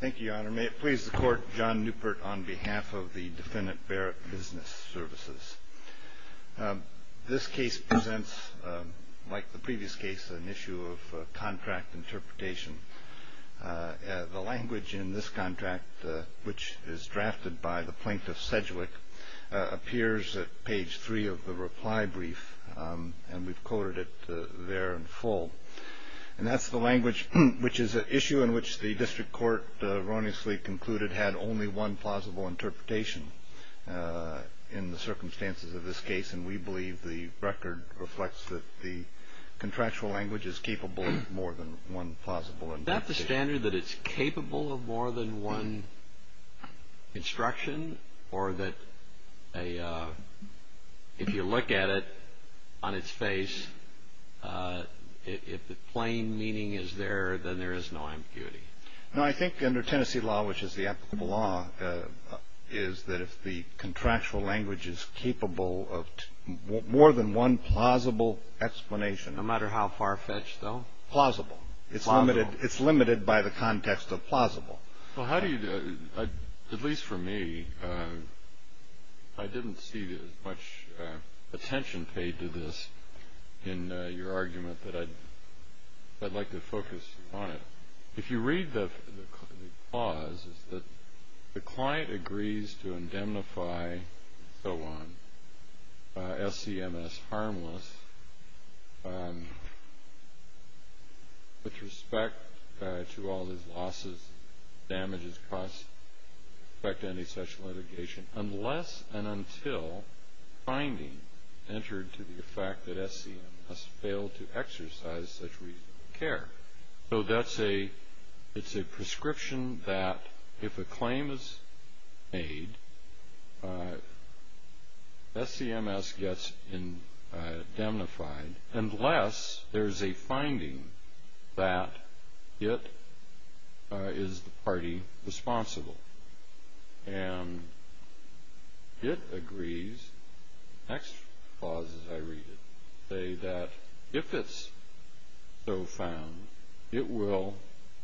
Thank you, Your Honor. May it please the Court, John Newpert on behalf of the Defendant Barrett Business Services. This case presents, like the previous case, an issue of contract interpretation. The language in this contract, which is drafted by the Plaintiff Sedgwick, appears at page 3 of the reply brief, and we've coded it there in full. And that's the language, which is an issue in which the District Court erroneously concluded had only one plausible interpretation in the circumstances of this case, and we believe the record reflects that the contractual language is capable of more than one plausible interpretation. Is that the standard, that it's capable of more than one instruction? Or that if you look at it on its face, if the plain meaning is there, then there is no ambiguity? No, I think under Tennessee law, which is the applicable law, is that if the contractual language is capable of more than one plausible explanation. No matter how far-fetched, though? Plausible. It's limited by the context of plausible. Well, how do you do it? At least for me, I didn't see much attention paid to this in your argument, but I'd like to focus on it. If you read the clause, it's that the client agrees to indemnify, and so on, SCMS harmless, with respect to all these losses, damages, costs, with respect to any such litigation, unless and until the finding entered to the effect that SCMS failed to exercise such reasonable care. So it's a prescription that if a claim is made, SCMS gets indemnified, unless there's a finding that it is the party responsible. And it agrees, the next clause as I read it, say that if it's so found, it will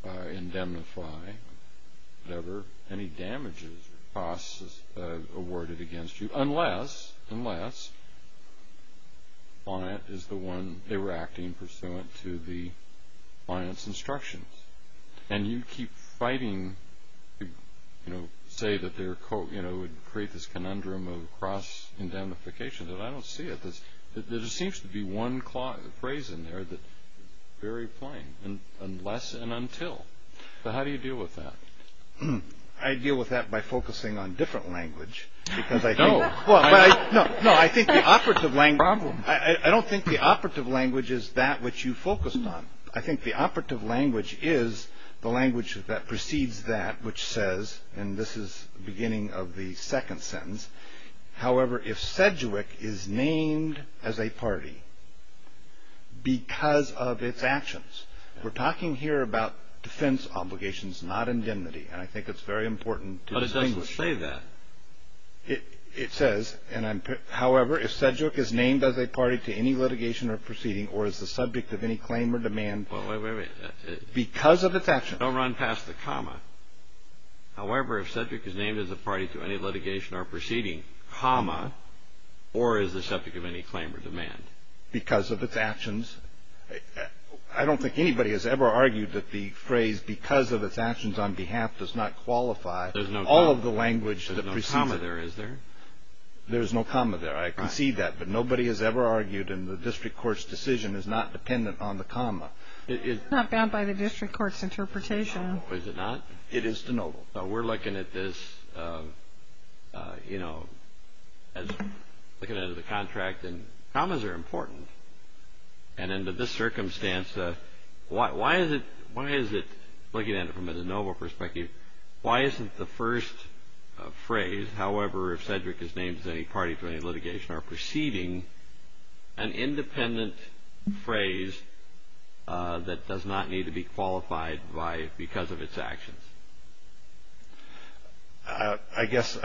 indemnify whatever any damages or costs awarded against you, unless the client is the one interacting pursuant to the client's instructions. And you keep fighting to say that it would create this conundrum of cross indemnification, but I don't see it. There just seems to be one phrase in there that's very plain, unless and until. So how do you deal with that? I deal with that by focusing on different language, because I think... No. No, I think the operative language... Problem. I don't think the operative language is that which you focused on. I think the operative language is the language that precedes that, which says, and this is the beginning of the second sentence, however, if Sedgwick is named as a party because of its actions, we're talking here about defense obligations, not indemnity, and I think it's very important to distinguish. But it doesn't say that. It says, however, if Sedgwick is named as a party to any litigation or proceeding or is the subject of any claim or demand because of its actions. Don't run past the comma. However, if Sedgwick is named as a party to any litigation or proceeding, comma, or is the subject of any claim or demand. Because of its actions. I don't think anybody has ever argued that the phrase because of its actions on behalf does not qualify all of the language that precedes it. There's no comma there, is there? There's no comma there. I concede that. But nobody has ever argued in the district court's decision is not dependent on the comma. It's not bound by the district court's interpretation. Is it not? It is de novo. So we're looking at this, you know, looking at the contract and commas are important. And under this circumstance, why is it looking at it from a de novo perspective, why isn't the first phrase, however, if Sedgwick is named as any party to any litigation or proceeding, an independent phrase that does not need to be qualified because of its actions? I guess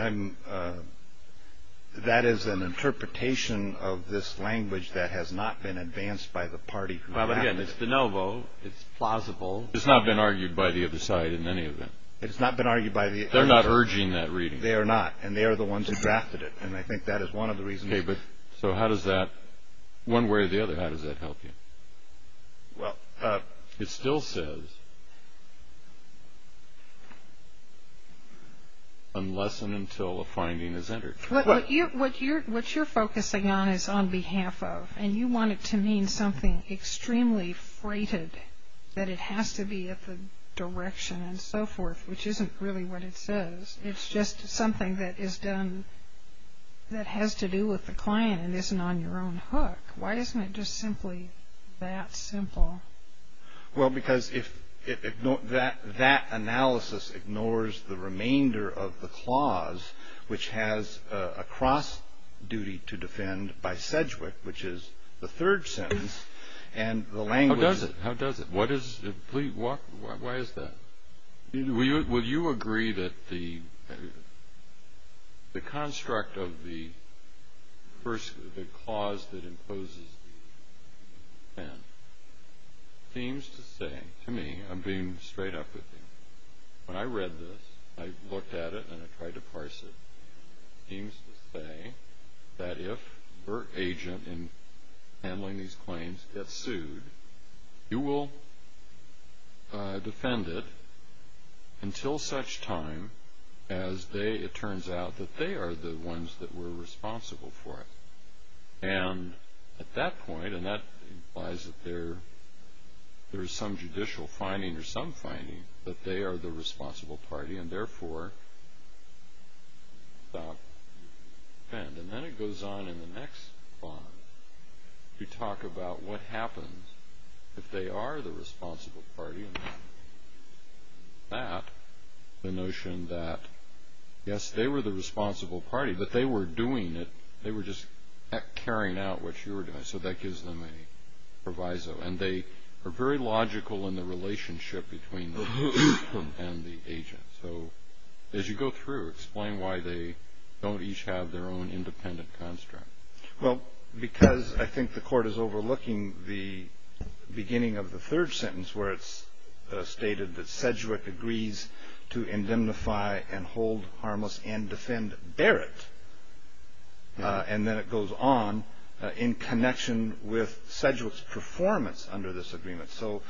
that is an interpretation of this language that has not been advanced by the party. But again, it's de novo. It's plausible. It's not been argued by the other side in any event. It's not been argued by the other side. They're not urging that reading. They are not. And they are the ones who drafted it. And I think that is one of the reasons. So how does that, one way or the other, how does that help you? It still says, unless and until a finding is entered. What you're focusing on is on behalf of. And you want it to mean something extremely freighted, that it has to be at the direction and so forth, which isn't really what it says. It's just something that is done that has to do with the client and isn't on your own hook. Why isn't it just simply that simple? Well, because that analysis ignores the remainder of the clause, which has a cross duty to defend by Sedgwick, which is the third sentence. How does it? How does it? Why is that? Will you agree that the construct of the first clause that imposes the pen seems to say, to me, I'm being straight up with you. When I read this, I looked at it and I tried to parse it. It seems to say that if your agent in handling these claims gets sued, you will defend it until such time as it turns out that they are the ones that were responsible for it. And at that point, and that implies that there is some judicial finding or some finding, that they are the responsible party and, therefore, stop, defend. And then it goes on in the next clause to talk about what happens if they are the responsible party. And that, the notion that, yes, they were the responsible party, but they were doing it. They were just carrying out what you were doing. So that gives them a proviso. And they are very logical in the relationship between the victim and the agent. So as you go through, explain why they don't each have their own independent construct. Well, because I think the court is overlooking the beginning of the third sentence, where it's stated that Sedgwick agrees to indemnify and hold harmless and defend Barrett. And then it goes on in connection with Sedgwick's performance under this agreement. So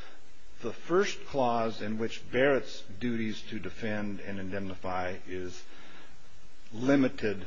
the first clause in which Barrett's duties to defend and indemnify is limited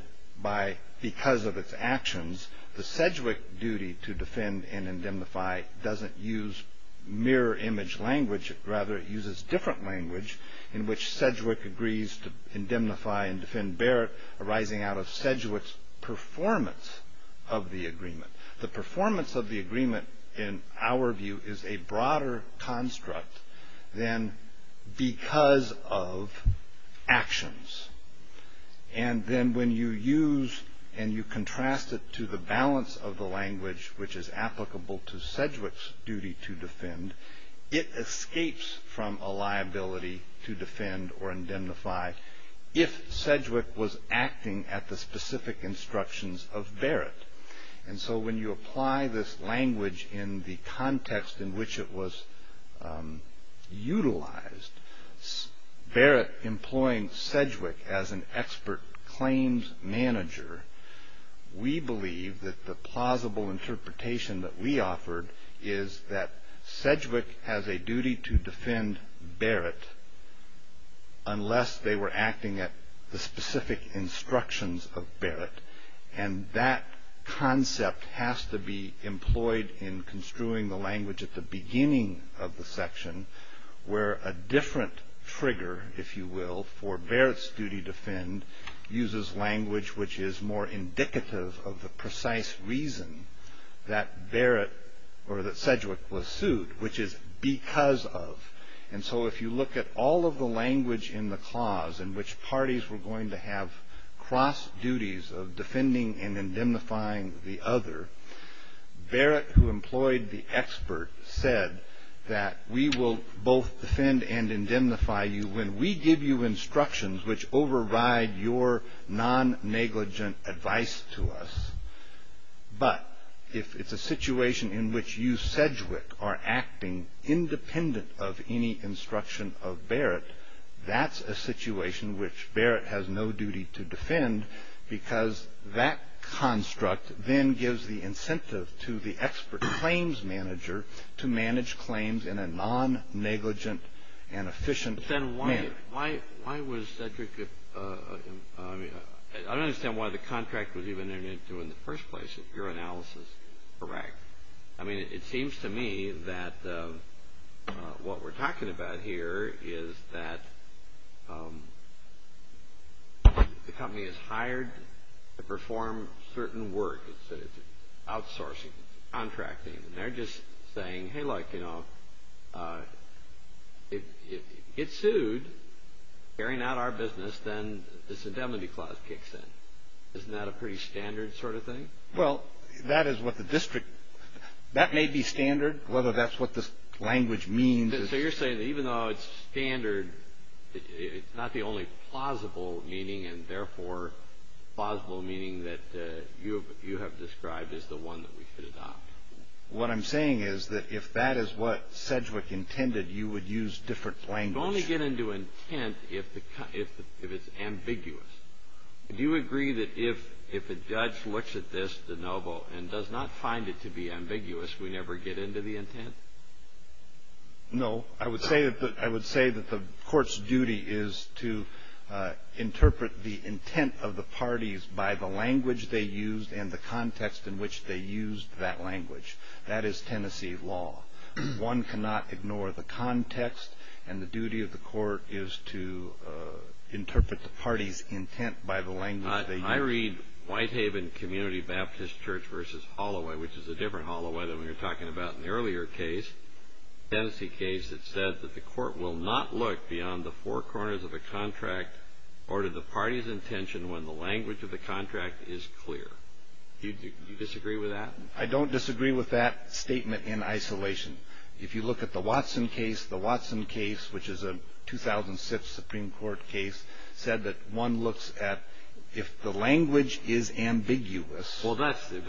because of its actions. The Sedgwick duty to defend and indemnify doesn't use mirror image language. Rather, it uses different language in which Sedgwick agrees to indemnify and defend Barrett, arising out of Sedgwick's performance of the agreement. The performance of the agreement, in our view, is a broader construct than because of actions. And then when you use and you contrast it to the balance of the language, which is applicable to Sedgwick's duty to defend, it escapes from a liability to defend or indemnify if Sedgwick was acting at the specific instructions of Barrett. And so when you apply this language in the context in which it was utilized, Barrett employing Sedgwick as an expert claims manager, we believe that the plausible interpretation that we offered is that Sedgwick has a duty to defend Barrett unless they were acting at the specific instructions of Barrett. And that concept has to be employed in construing the language at the beginning of the section, where a different trigger, if you will, for Barrett's duty to defend, uses language which is more indicative of the precise reason that Barrett or that Sedgwick was sued, which is because of. And so if you look at all of the language in the clause, in which parties were going to have cross duties of defending and indemnifying the other, Barrett, who employed the expert, said that we will both defend and indemnify you when we give you instructions which override your non-negligent advice to us. But if it's a situation in which you, Sedgwick, are acting independent of any instruction of Barrett, that's a situation which Barrett has no duty to defend because that construct then gives the incentive to the expert claims manager to manage claims in a non-negligent and efficient manner. Then why was Sedgwick, I don't understand why the contract was even there in the first place. Your analysis is correct. I mean, it seems to me that what we're talking about here is that the company is hired to perform certain work. It's outsourcing, contracting, and they're just saying, hey, like, you know, if you get sued carrying out our business, then this indemnity clause kicks in. Isn't that a pretty standard sort of thing? Well, that is what the district – that may be standard, whether that's what this language means. So you're saying that even though it's standard, it's not the only plausible meaning and therefore plausible meaning that you have described as the one that we should adopt. What I'm saying is that if that is what Sedgwick intended, you would use different language. You only get into intent if it's ambiguous. Do you agree that if a judge looks at this, DeNoble, and does not find it to be ambiguous, we never get into the intent? No. I would say that the court's duty is to interpret the intent of the parties by the language they used and the context in which they used that language. That is Tennessee law. One cannot ignore the context, and the duty of the court is to interpret the party's intent by the language they used. I read Whitehaven Community Baptist Church v. Holloway, which is a different Holloway than we were talking about in the earlier case, Tennessee case that said that the court will not look beyond the four corners of a contract or to the party's intention when the language of the contract is clear. Do you disagree with that? I don't disagree with that statement in isolation. If you look at the Watson case, the Watson case, which is a 2006 Supreme Court case, said that one looks at if the language is ambiguous. Well, that's the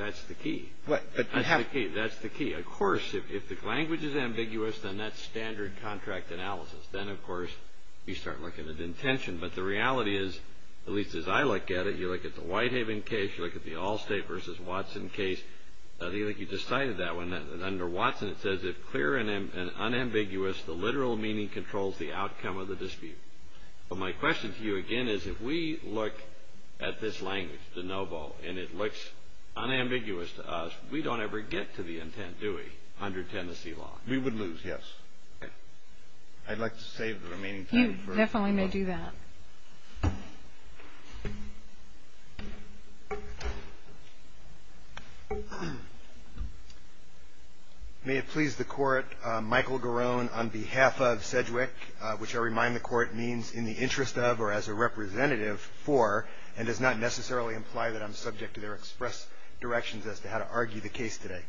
key. That's the key. Of course, if the language is ambiguous, then that's standard contract analysis. Then, of course, you start looking at intention. But the reality is, at least as I look at it, you look at the Whitehaven case, you look at the Allstate v. Watson case. I think you just cited that one. Under Watson, it says if clear and unambiguous, the literal meaning controls the outcome of the dispute. But my question to you, again, is if we look at this language, de novo, and it looks unambiguous to us, we don't ever get to the intent, do we, under Tennessee law? We would lose, yes. I'd like to save the remaining time. Definitely may do that. May it please the Court, Michael Garone on behalf of Sedgwick, which I remind the Court means in the interest of or as a representative for and does not necessarily imply that I'm subject to their express directions as to how to argue the case today.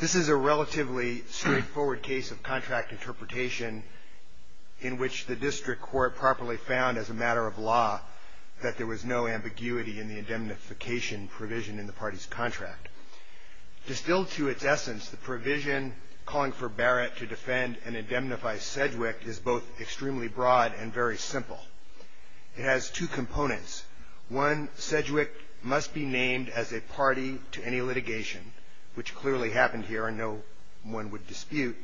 This is a relatively straightforward case of contract interpretation in which the district court properly found as a matter of law that there was no ambiguity in the indemnification provision in the party's contract. Distilled to its essence, the provision calling for Barrett to defend and indemnify Sedgwick is both extremely broad and very simple. It has two components. One, Sedgwick must be named as a party to any litigation, which clearly happened here and no one would dispute.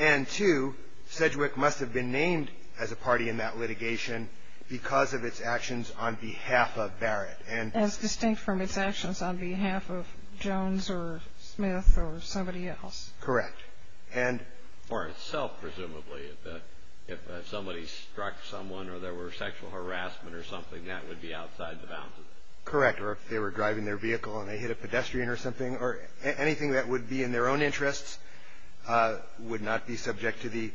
And two, Sedgwick must have been named as a party in that litigation because of its actions on behalf of Barrett. As distinct from its actions on behalf of Jones or Smith or somebody else. Correct. And for itself, presumably, if somebody struck someone or there were sexual harassment or something, that would be outside the boundaries. Correct. Or if they were driving their vehicle and they hit a pedestrian or something or anything that would be in their own interests would not be subject to the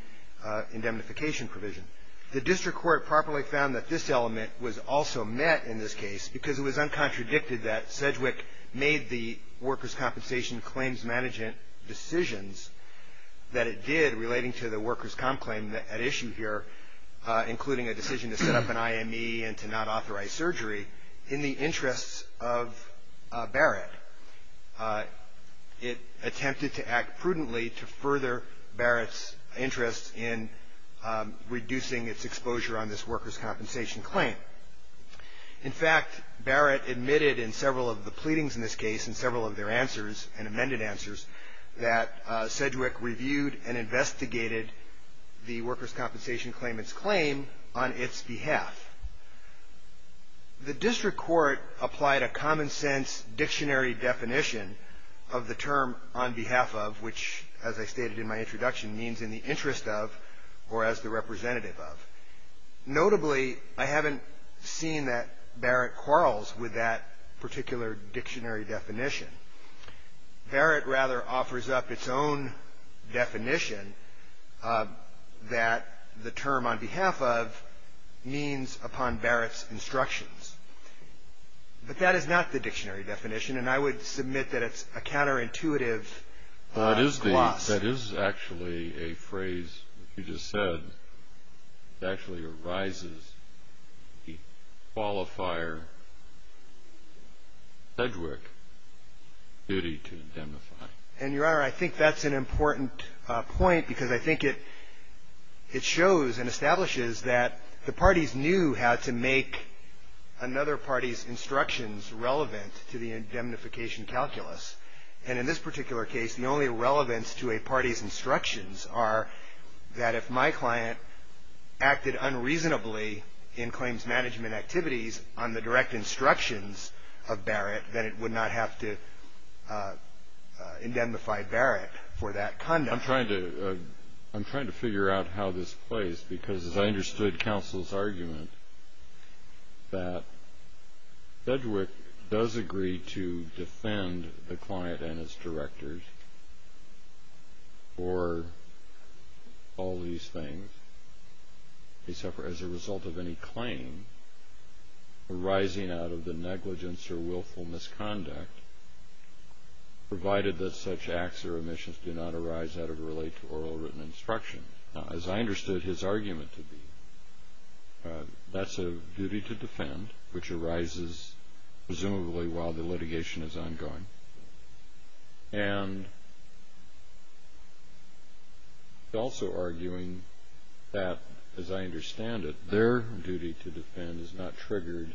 indemnification provision. The district court properly found that this element was also met in this case because it was uncontradicted that Sedgwick made the workers' compensation claims management decisions that it did relating to the workers' comp claim at issue here, including a decision to set up an IME and to not authorize surgery in the interests of Barrett. It attempted to act prudently to further Barrett's interests in reducing its exposure on this workers' compensation claim. In fact, Barrett admitted in several of the pleadings in this case and several of their answers and amended answers that Sedgwick reviewed and investigated the workers' compensation claimant's claim on its behalf. The district court applied a common sense dictionary definition of the term on behalf of, which as I stated in my introduction, means in the interest of or as the representative of. Notably, I haven't seen that Barrett quarrels with that particular dictionary definition. Barrett rather offers up its own definition that the term on behalf of means upon Barrett's instructions. But that is not the dictionary definition, and I would submit that it's a counterintuitive gloss. That is actually a phrase you just said. It actually revises the qualifier Sedgwick duty to indemnify. And, Your Honor, I think that's an important point, because I think it shows and establishes that the parties knew how to make another party's instructions relevant to the indemnification calculus. And in this particular case, the only relevance to a party's instructions are that if my client acted unreasonably in claims management activities on the direct instructions of Barrett, then it would not have to indemnify Barrett for that conduct. I'm trying to figure out how this plays, because as I understood counsel's argument, that Sedgwick does agree to defend the client and his directors for all these things. They suffer as a result of any claim arising out of the negligence or willful misconduct, provided that such acts or omissions do not arise out of or relate to oral written instructions. Now, as I understood his argument to be, that's a duty to defend, which arises presumably while the litigation is ongoing. And he's also arguing that, as I understand it, their duty to defend is not triggered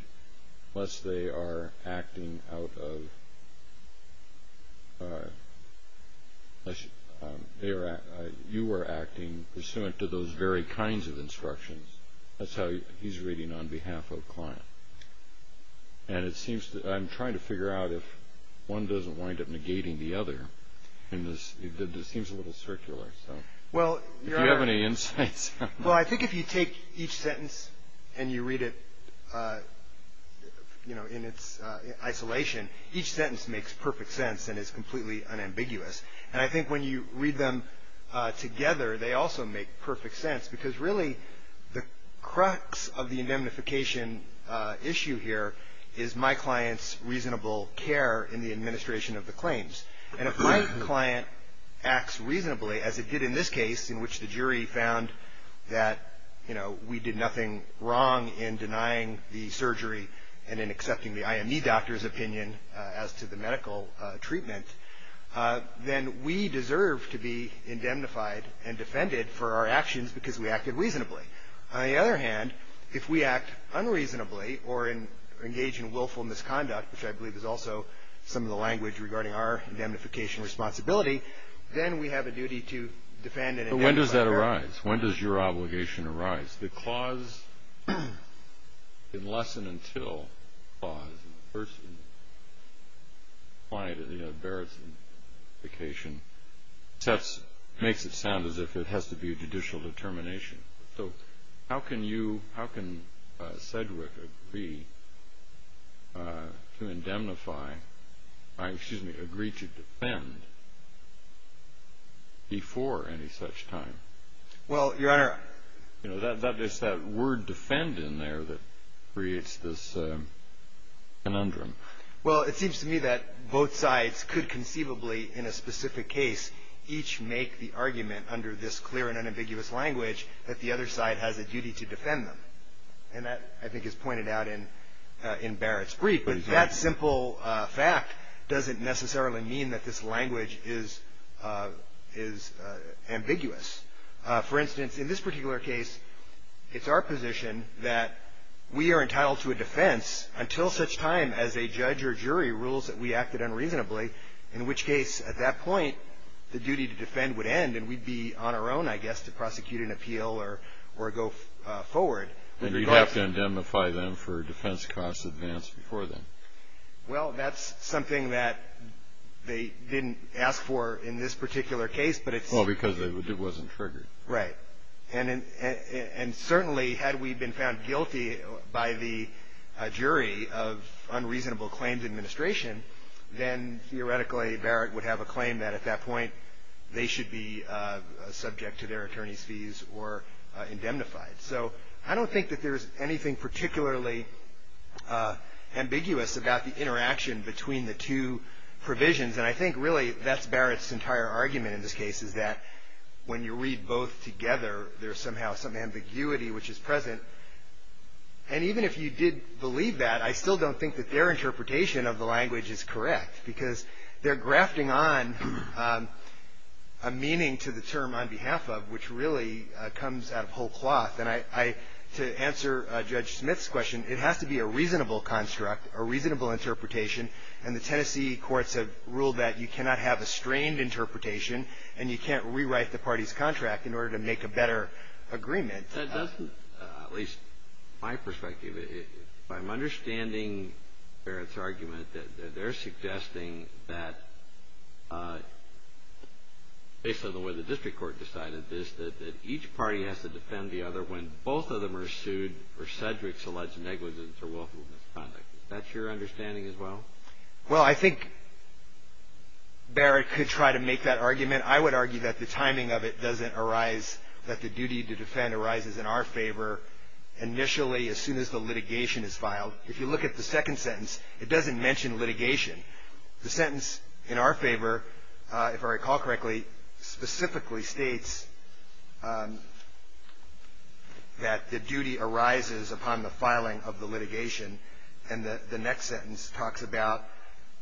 unless they are acting out of – you are acting pursuant to those very kinds of instructions. That's how he's reading on behalf of a client. And it seems – I'm trying to figure out if one doesn't wind up negating the other. And this seems a little circular. Do you have any insights? Well, I think if you take each sentence and you read it, you know, in its isolation, each sentence makes perfect sense and is completely unambiguous. And I think when you read them together, they also make perfect sense, because really the crux of the indemnification issue here is my client's reasonable care in the administration of the claims. And if my client acts reasonably, as it did in this case, in which the jury found that, you know, we did nothing wrong in denying the surgery and in accepting the IME doctor's opinion as to the medical treatment, then we deserve to be indemnified and defended for our actions because we acted reasonably. On the other hand, if we act unreasonably or engage in willful misconduct, which I believe is also some of the language regarding our indemnification responsibility, then we have a duty to defend and indemnify. But when does that arise? When does your obligation arise? The clause in less than until clause in the first client of the embarrassment indemnification makes it sound as if it has to be a judicial determination. So how can you, how can Sedgwick agree to indemnify, excuse me, agree to defend before any such time? Well, Your Honor. You know, it's that word defend in there that creates this conundrum. Well, it seems to me that both sides could conceivably, in a specific case, each make the argument under this clear and unambiguous language that the other side has a duty to defend them. And that, I think, is pointed out in Barrett's brief. But that simple fact doesn't necessarily mean that this language is ambiguous. For instance, in this particular case, it's our position that we are entitled to a defense until such time as a judge or jury rules that we acted unreasonably, in which case, at that point, the duty to defend would end and we'd be on our own, I guess, to prosecute an appeal or go forward. And we'd have to indemnify them for defense costs advanced before then. Well, that's something that they didn't ask for in this particular case, but it's… Well, because it wasn't triggered. Right. And certainly, had we been found guilty by the jury of unreasonable claims administration, then, theoretically, Barrett would have a claim that, at that point, they should be subject to their attorney's fees or indemnified. So I don't think that there's anything particularly ambiguous about the interaction between the two provisions. And I think, really, that's Barrett's entire argument in this case, is that when you read both together, there's somehow some ambiguity which is present. And even if you did believe that, I still don't think that their interpretation of the language is correct, because they're grafting on a meaning to the term on behalf of, which really comes out of whole cloth. And I — to answer Judge Smith's question, it has to be a reasonable construct, a reasonable interpretation. And the Tennessee courts have ruled that you cannot have a strained interpretation and you can't rewrite the party's contract in order to make a better agreement. That doesn't, at least my perspective, if I'm understanding Barrett's argument, that they're suggesting that, based on the way the district court decided this, that each party has to defend the other when both of them are sued for Sedgwick's alleged negligence or willful misconduct. Is that your understanding as well? Well, I think Barrett could try to make that argument. I would argue that the timing of it doesn't arise, that the duty to defend arises in our favor initially as soon as the litigation is filed. If you look at the second sentence, it doesn't mention litigation. The sentence in our favor, if I recall correctly, specifically states that the duty arises upon the filing of the litigation. And the next sentence talks about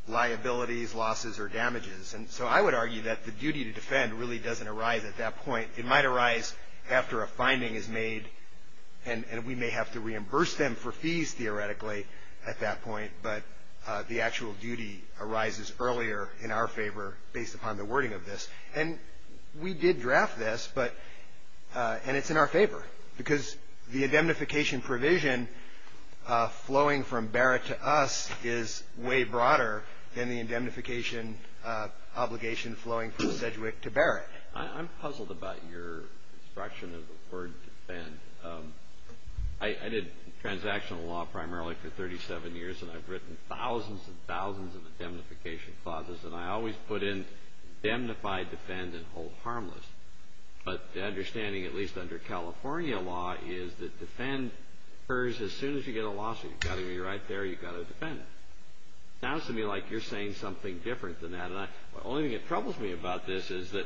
liabilities, losses, or damages. And so I would argue that the duty to defend really doesn't arise at that point. It might arise after a finding is made, and we may have to reimburse them for fees theoretically at that point, but the actual duty arises earlier in our favor based upon the wording of this. And we did draft this, and it's in our favor, because the indemnification provision flowing from Barrett to us is way broader than the indemnification obligation flowing from Sedgwick to Barrett. I'm puzzled about your instruction of the word defend. I did transactional law primarily for 37 years, and I've written thousands and thousands of indemnification clauses, and I always put in indemnify, defend, and hold harmless. But the understanding, at least under California law, is that defend occurs as soon as you get a lawsuit. You've got to be right there. You've got to defend. It sounds to me like you're saying something different than that, and the only thing that troubles me about this is that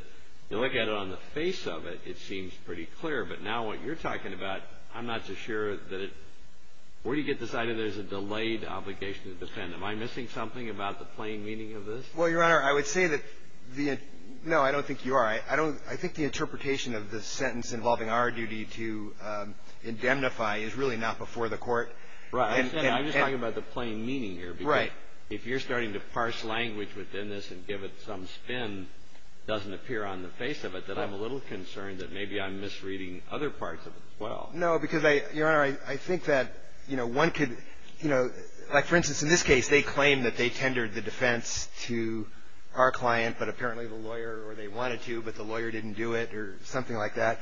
you look at it on the face of it, it seems pretty clear. But now what you're talking about, I'm not so sure that it – where do you get this idea there's a delayed obligation to defend? Am I missing something about the plain meaning of this? Well, Your Honor, I would say that the – no, I don't think you are. I don't – I think the interpretation of the sentence involving our duty to indemnify is really not before the Court. Right. I'm just talking about the plain meaning here. Right. Because if you're starting to parse language within this and give it some spin, it doesn't appear on the face of it that I'm a little concerned that maybe I'm misreading other parts of it as well. No, because, Your Honor, I think that, you know, one could – you know, like, for instance, in this case, they claim that they tendered the defense to our client, but apparently the lawyer – or they wanted to, but the lawyer didn't do it, or something like that.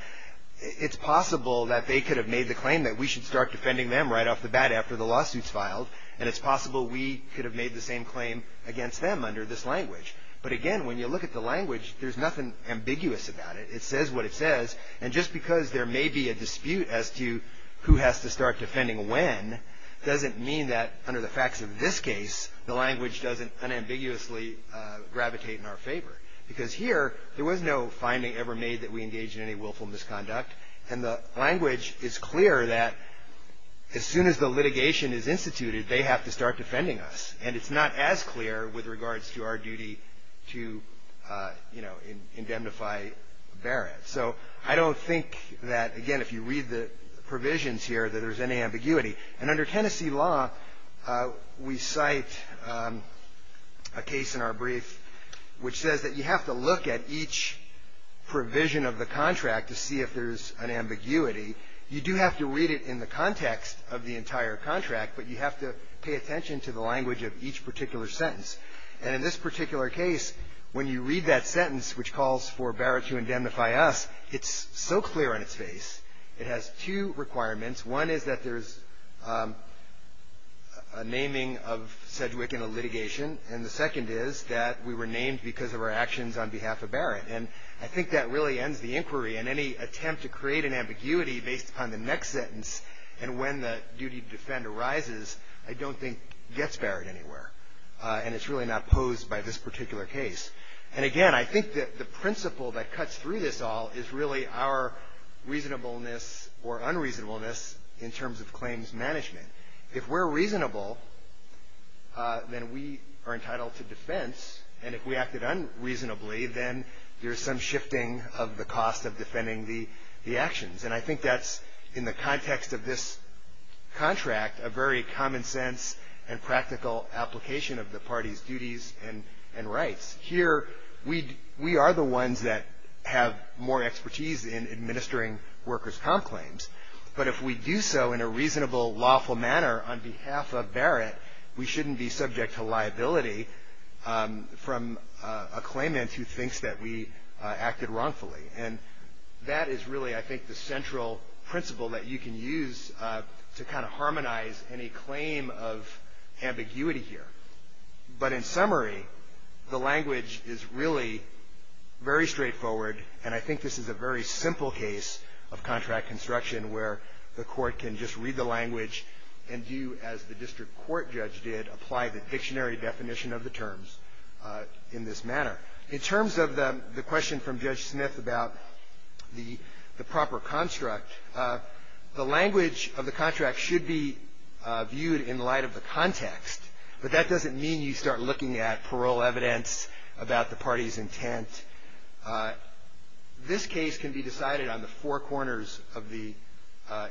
It's possible that they could have made the claim that we should start defending them right off the bat after the lawsuit's filed, and it's possible we could have made the same claim against them under this language. But, again, when you look at the language, there's nothing ambiguous about it. It says what it says, and just because there may be a dispute as to who has to start defending when doesn't mean that, under the facts of this case, the language doesn't unambiguously gravitate in our favor. Because here, there was no finding ever made that we engaged in any willful misconduct, and the language is clear that as soon as the litigation is instituted, they have to start defending us. And it's not as clear with regards to our duty to, you know, indemnify Barrett. So I don't think that, again, if you read the provisions here, that there's any ambiguity. And under Tennessee law, we cite a case in our brief which says that you have to look at each provision of the contract to see if there's an ambiguity. You do have to read it in the context of the entire contract, but you have to pay attention to the language of each particular sentence. And in this particular case, when you read that sentence which calls for Barrett to indemnify us, it's so clear on its face. It has two requirements. One is that there's a naming of Sedgwick in a litigation, and the second is that we were named because of our actions on behalf of Barrett. And I think that really ends the inquiry. And any attempt to create an ambiguity based upon the next sentence and when the duty to defend arises, I don't think gets Barrett anywhere. And it's really not posed by this particular case. And, again, I think that the principle that cuts through this all is really our reasonableness or unreasonableness in terms of claims management. If we're reasonable, then we are entitled to defense. And if we acted unreasonably, then there's some shifting of the cost of defending the actions. And I think that's, in the context of this contract, a very common sense and practical application of the party's duties and rights. Here, we are the ones that have more expertise in administering workers' comp claims. But if we do so in a reasonable, lawful manner on behalf of Barrett, we shouldn't be subject to liability from a claimant who thinks that we acted wrongfully. And that is really, I think, the central principle that you can use to kind of harmonize any claim of ambiguity here. But in summary, the language is really very straightforward. And I think this is a very simple case of contract construction where the court can just read the language and do as the district court judge did, apply the dictionary definition of the terms in this manner. In terms of the question from Judge Smith about the proper construct, the language of the contract should be viewed in light of the context. But that doesn't mean you start looking at parole evidence about the party's intent. This case can be decided on the four corners of the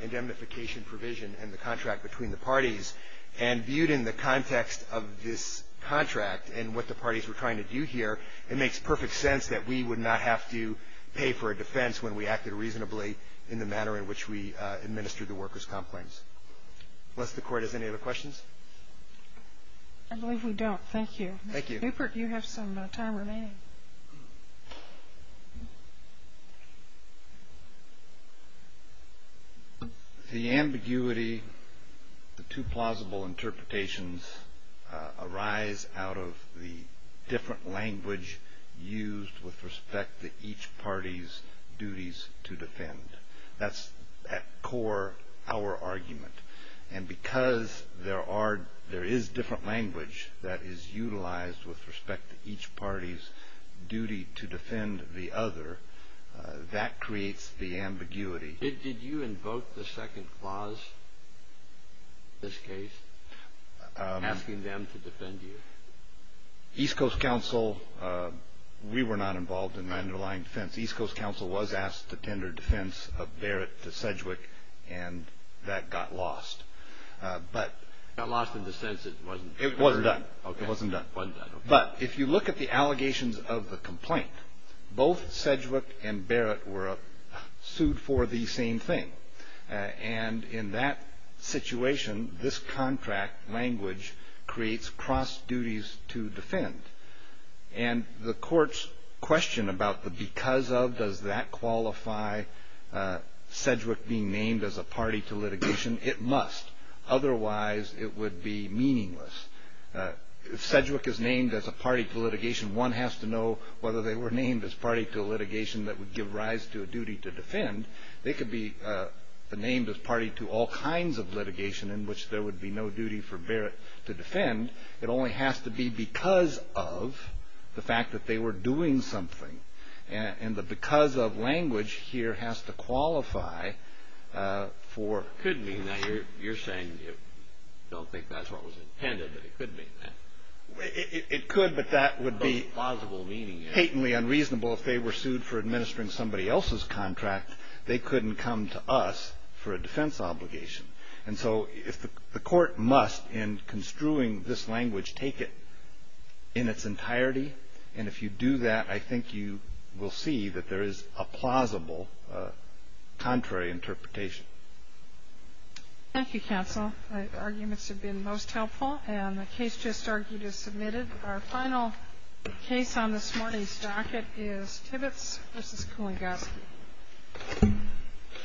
indemnification provision and the contract between the parties. And viewed in the context of this contract and what the parties were trying to do here, it makes perfect sense that we would not have to pay for a defense when we acted reasonably in the manner in which we administered the workers' comp claims. Does the Court have any other questions? I believe we don't. Thank you. Thank you. Mr. Newport, you have some time remaining. The ambiguity, the two plausible interpretations, arise out of the different language used with respect to each party's duties to defend. That's at core our argument. And because there is different language that is utilized with respect to each party's duty to defend the other, that creates the ambiguity. Did you invoke the second clause in this case, asking them to defend you? East Coast Counsel, we were not involved in the underlying defense. East Coast Counsel was asked to tender defense of Barrett to Sedgwick, and that got lost. Got lost in the sense that it wasn't? It wasn't done. It wasn't done. But if you look at the allegations of the complaint, both Sedgwick and Barrett were sued for the same thing. And in that situation, this contract language creates cross duties to defend. And the court's question about the because of, does that qualify Sedgwick being named as a party to litigation? It must. Otherwise, it would be meaningless. If Sedgwick is named as a party to litigation, one has to know whether they were named as party to a litigation that would give rise to a duty to defend. They could be named as party to all kinds of litigation in which there would be no duty for Barrett to defend. It only has to be because of the fact that they were doing something. And the because of language here has to qualify for. It could mean that. You're saying you don't think that's what was intended, but it could mean that. It could, but that would be patently unreasonable if they were sued for administering somebody else's contract. They couldn't come to us for a defense obligation. And so if the court must, in construing this language, take it in its entirety. And if you do that, I think you will see that there is a plausible contrary interpretation. Thank you, counsel. Arguments have been most helpful. And the case just argued is submitted. Our final case on this morning's docket is Tibbetts v. Kulingoski.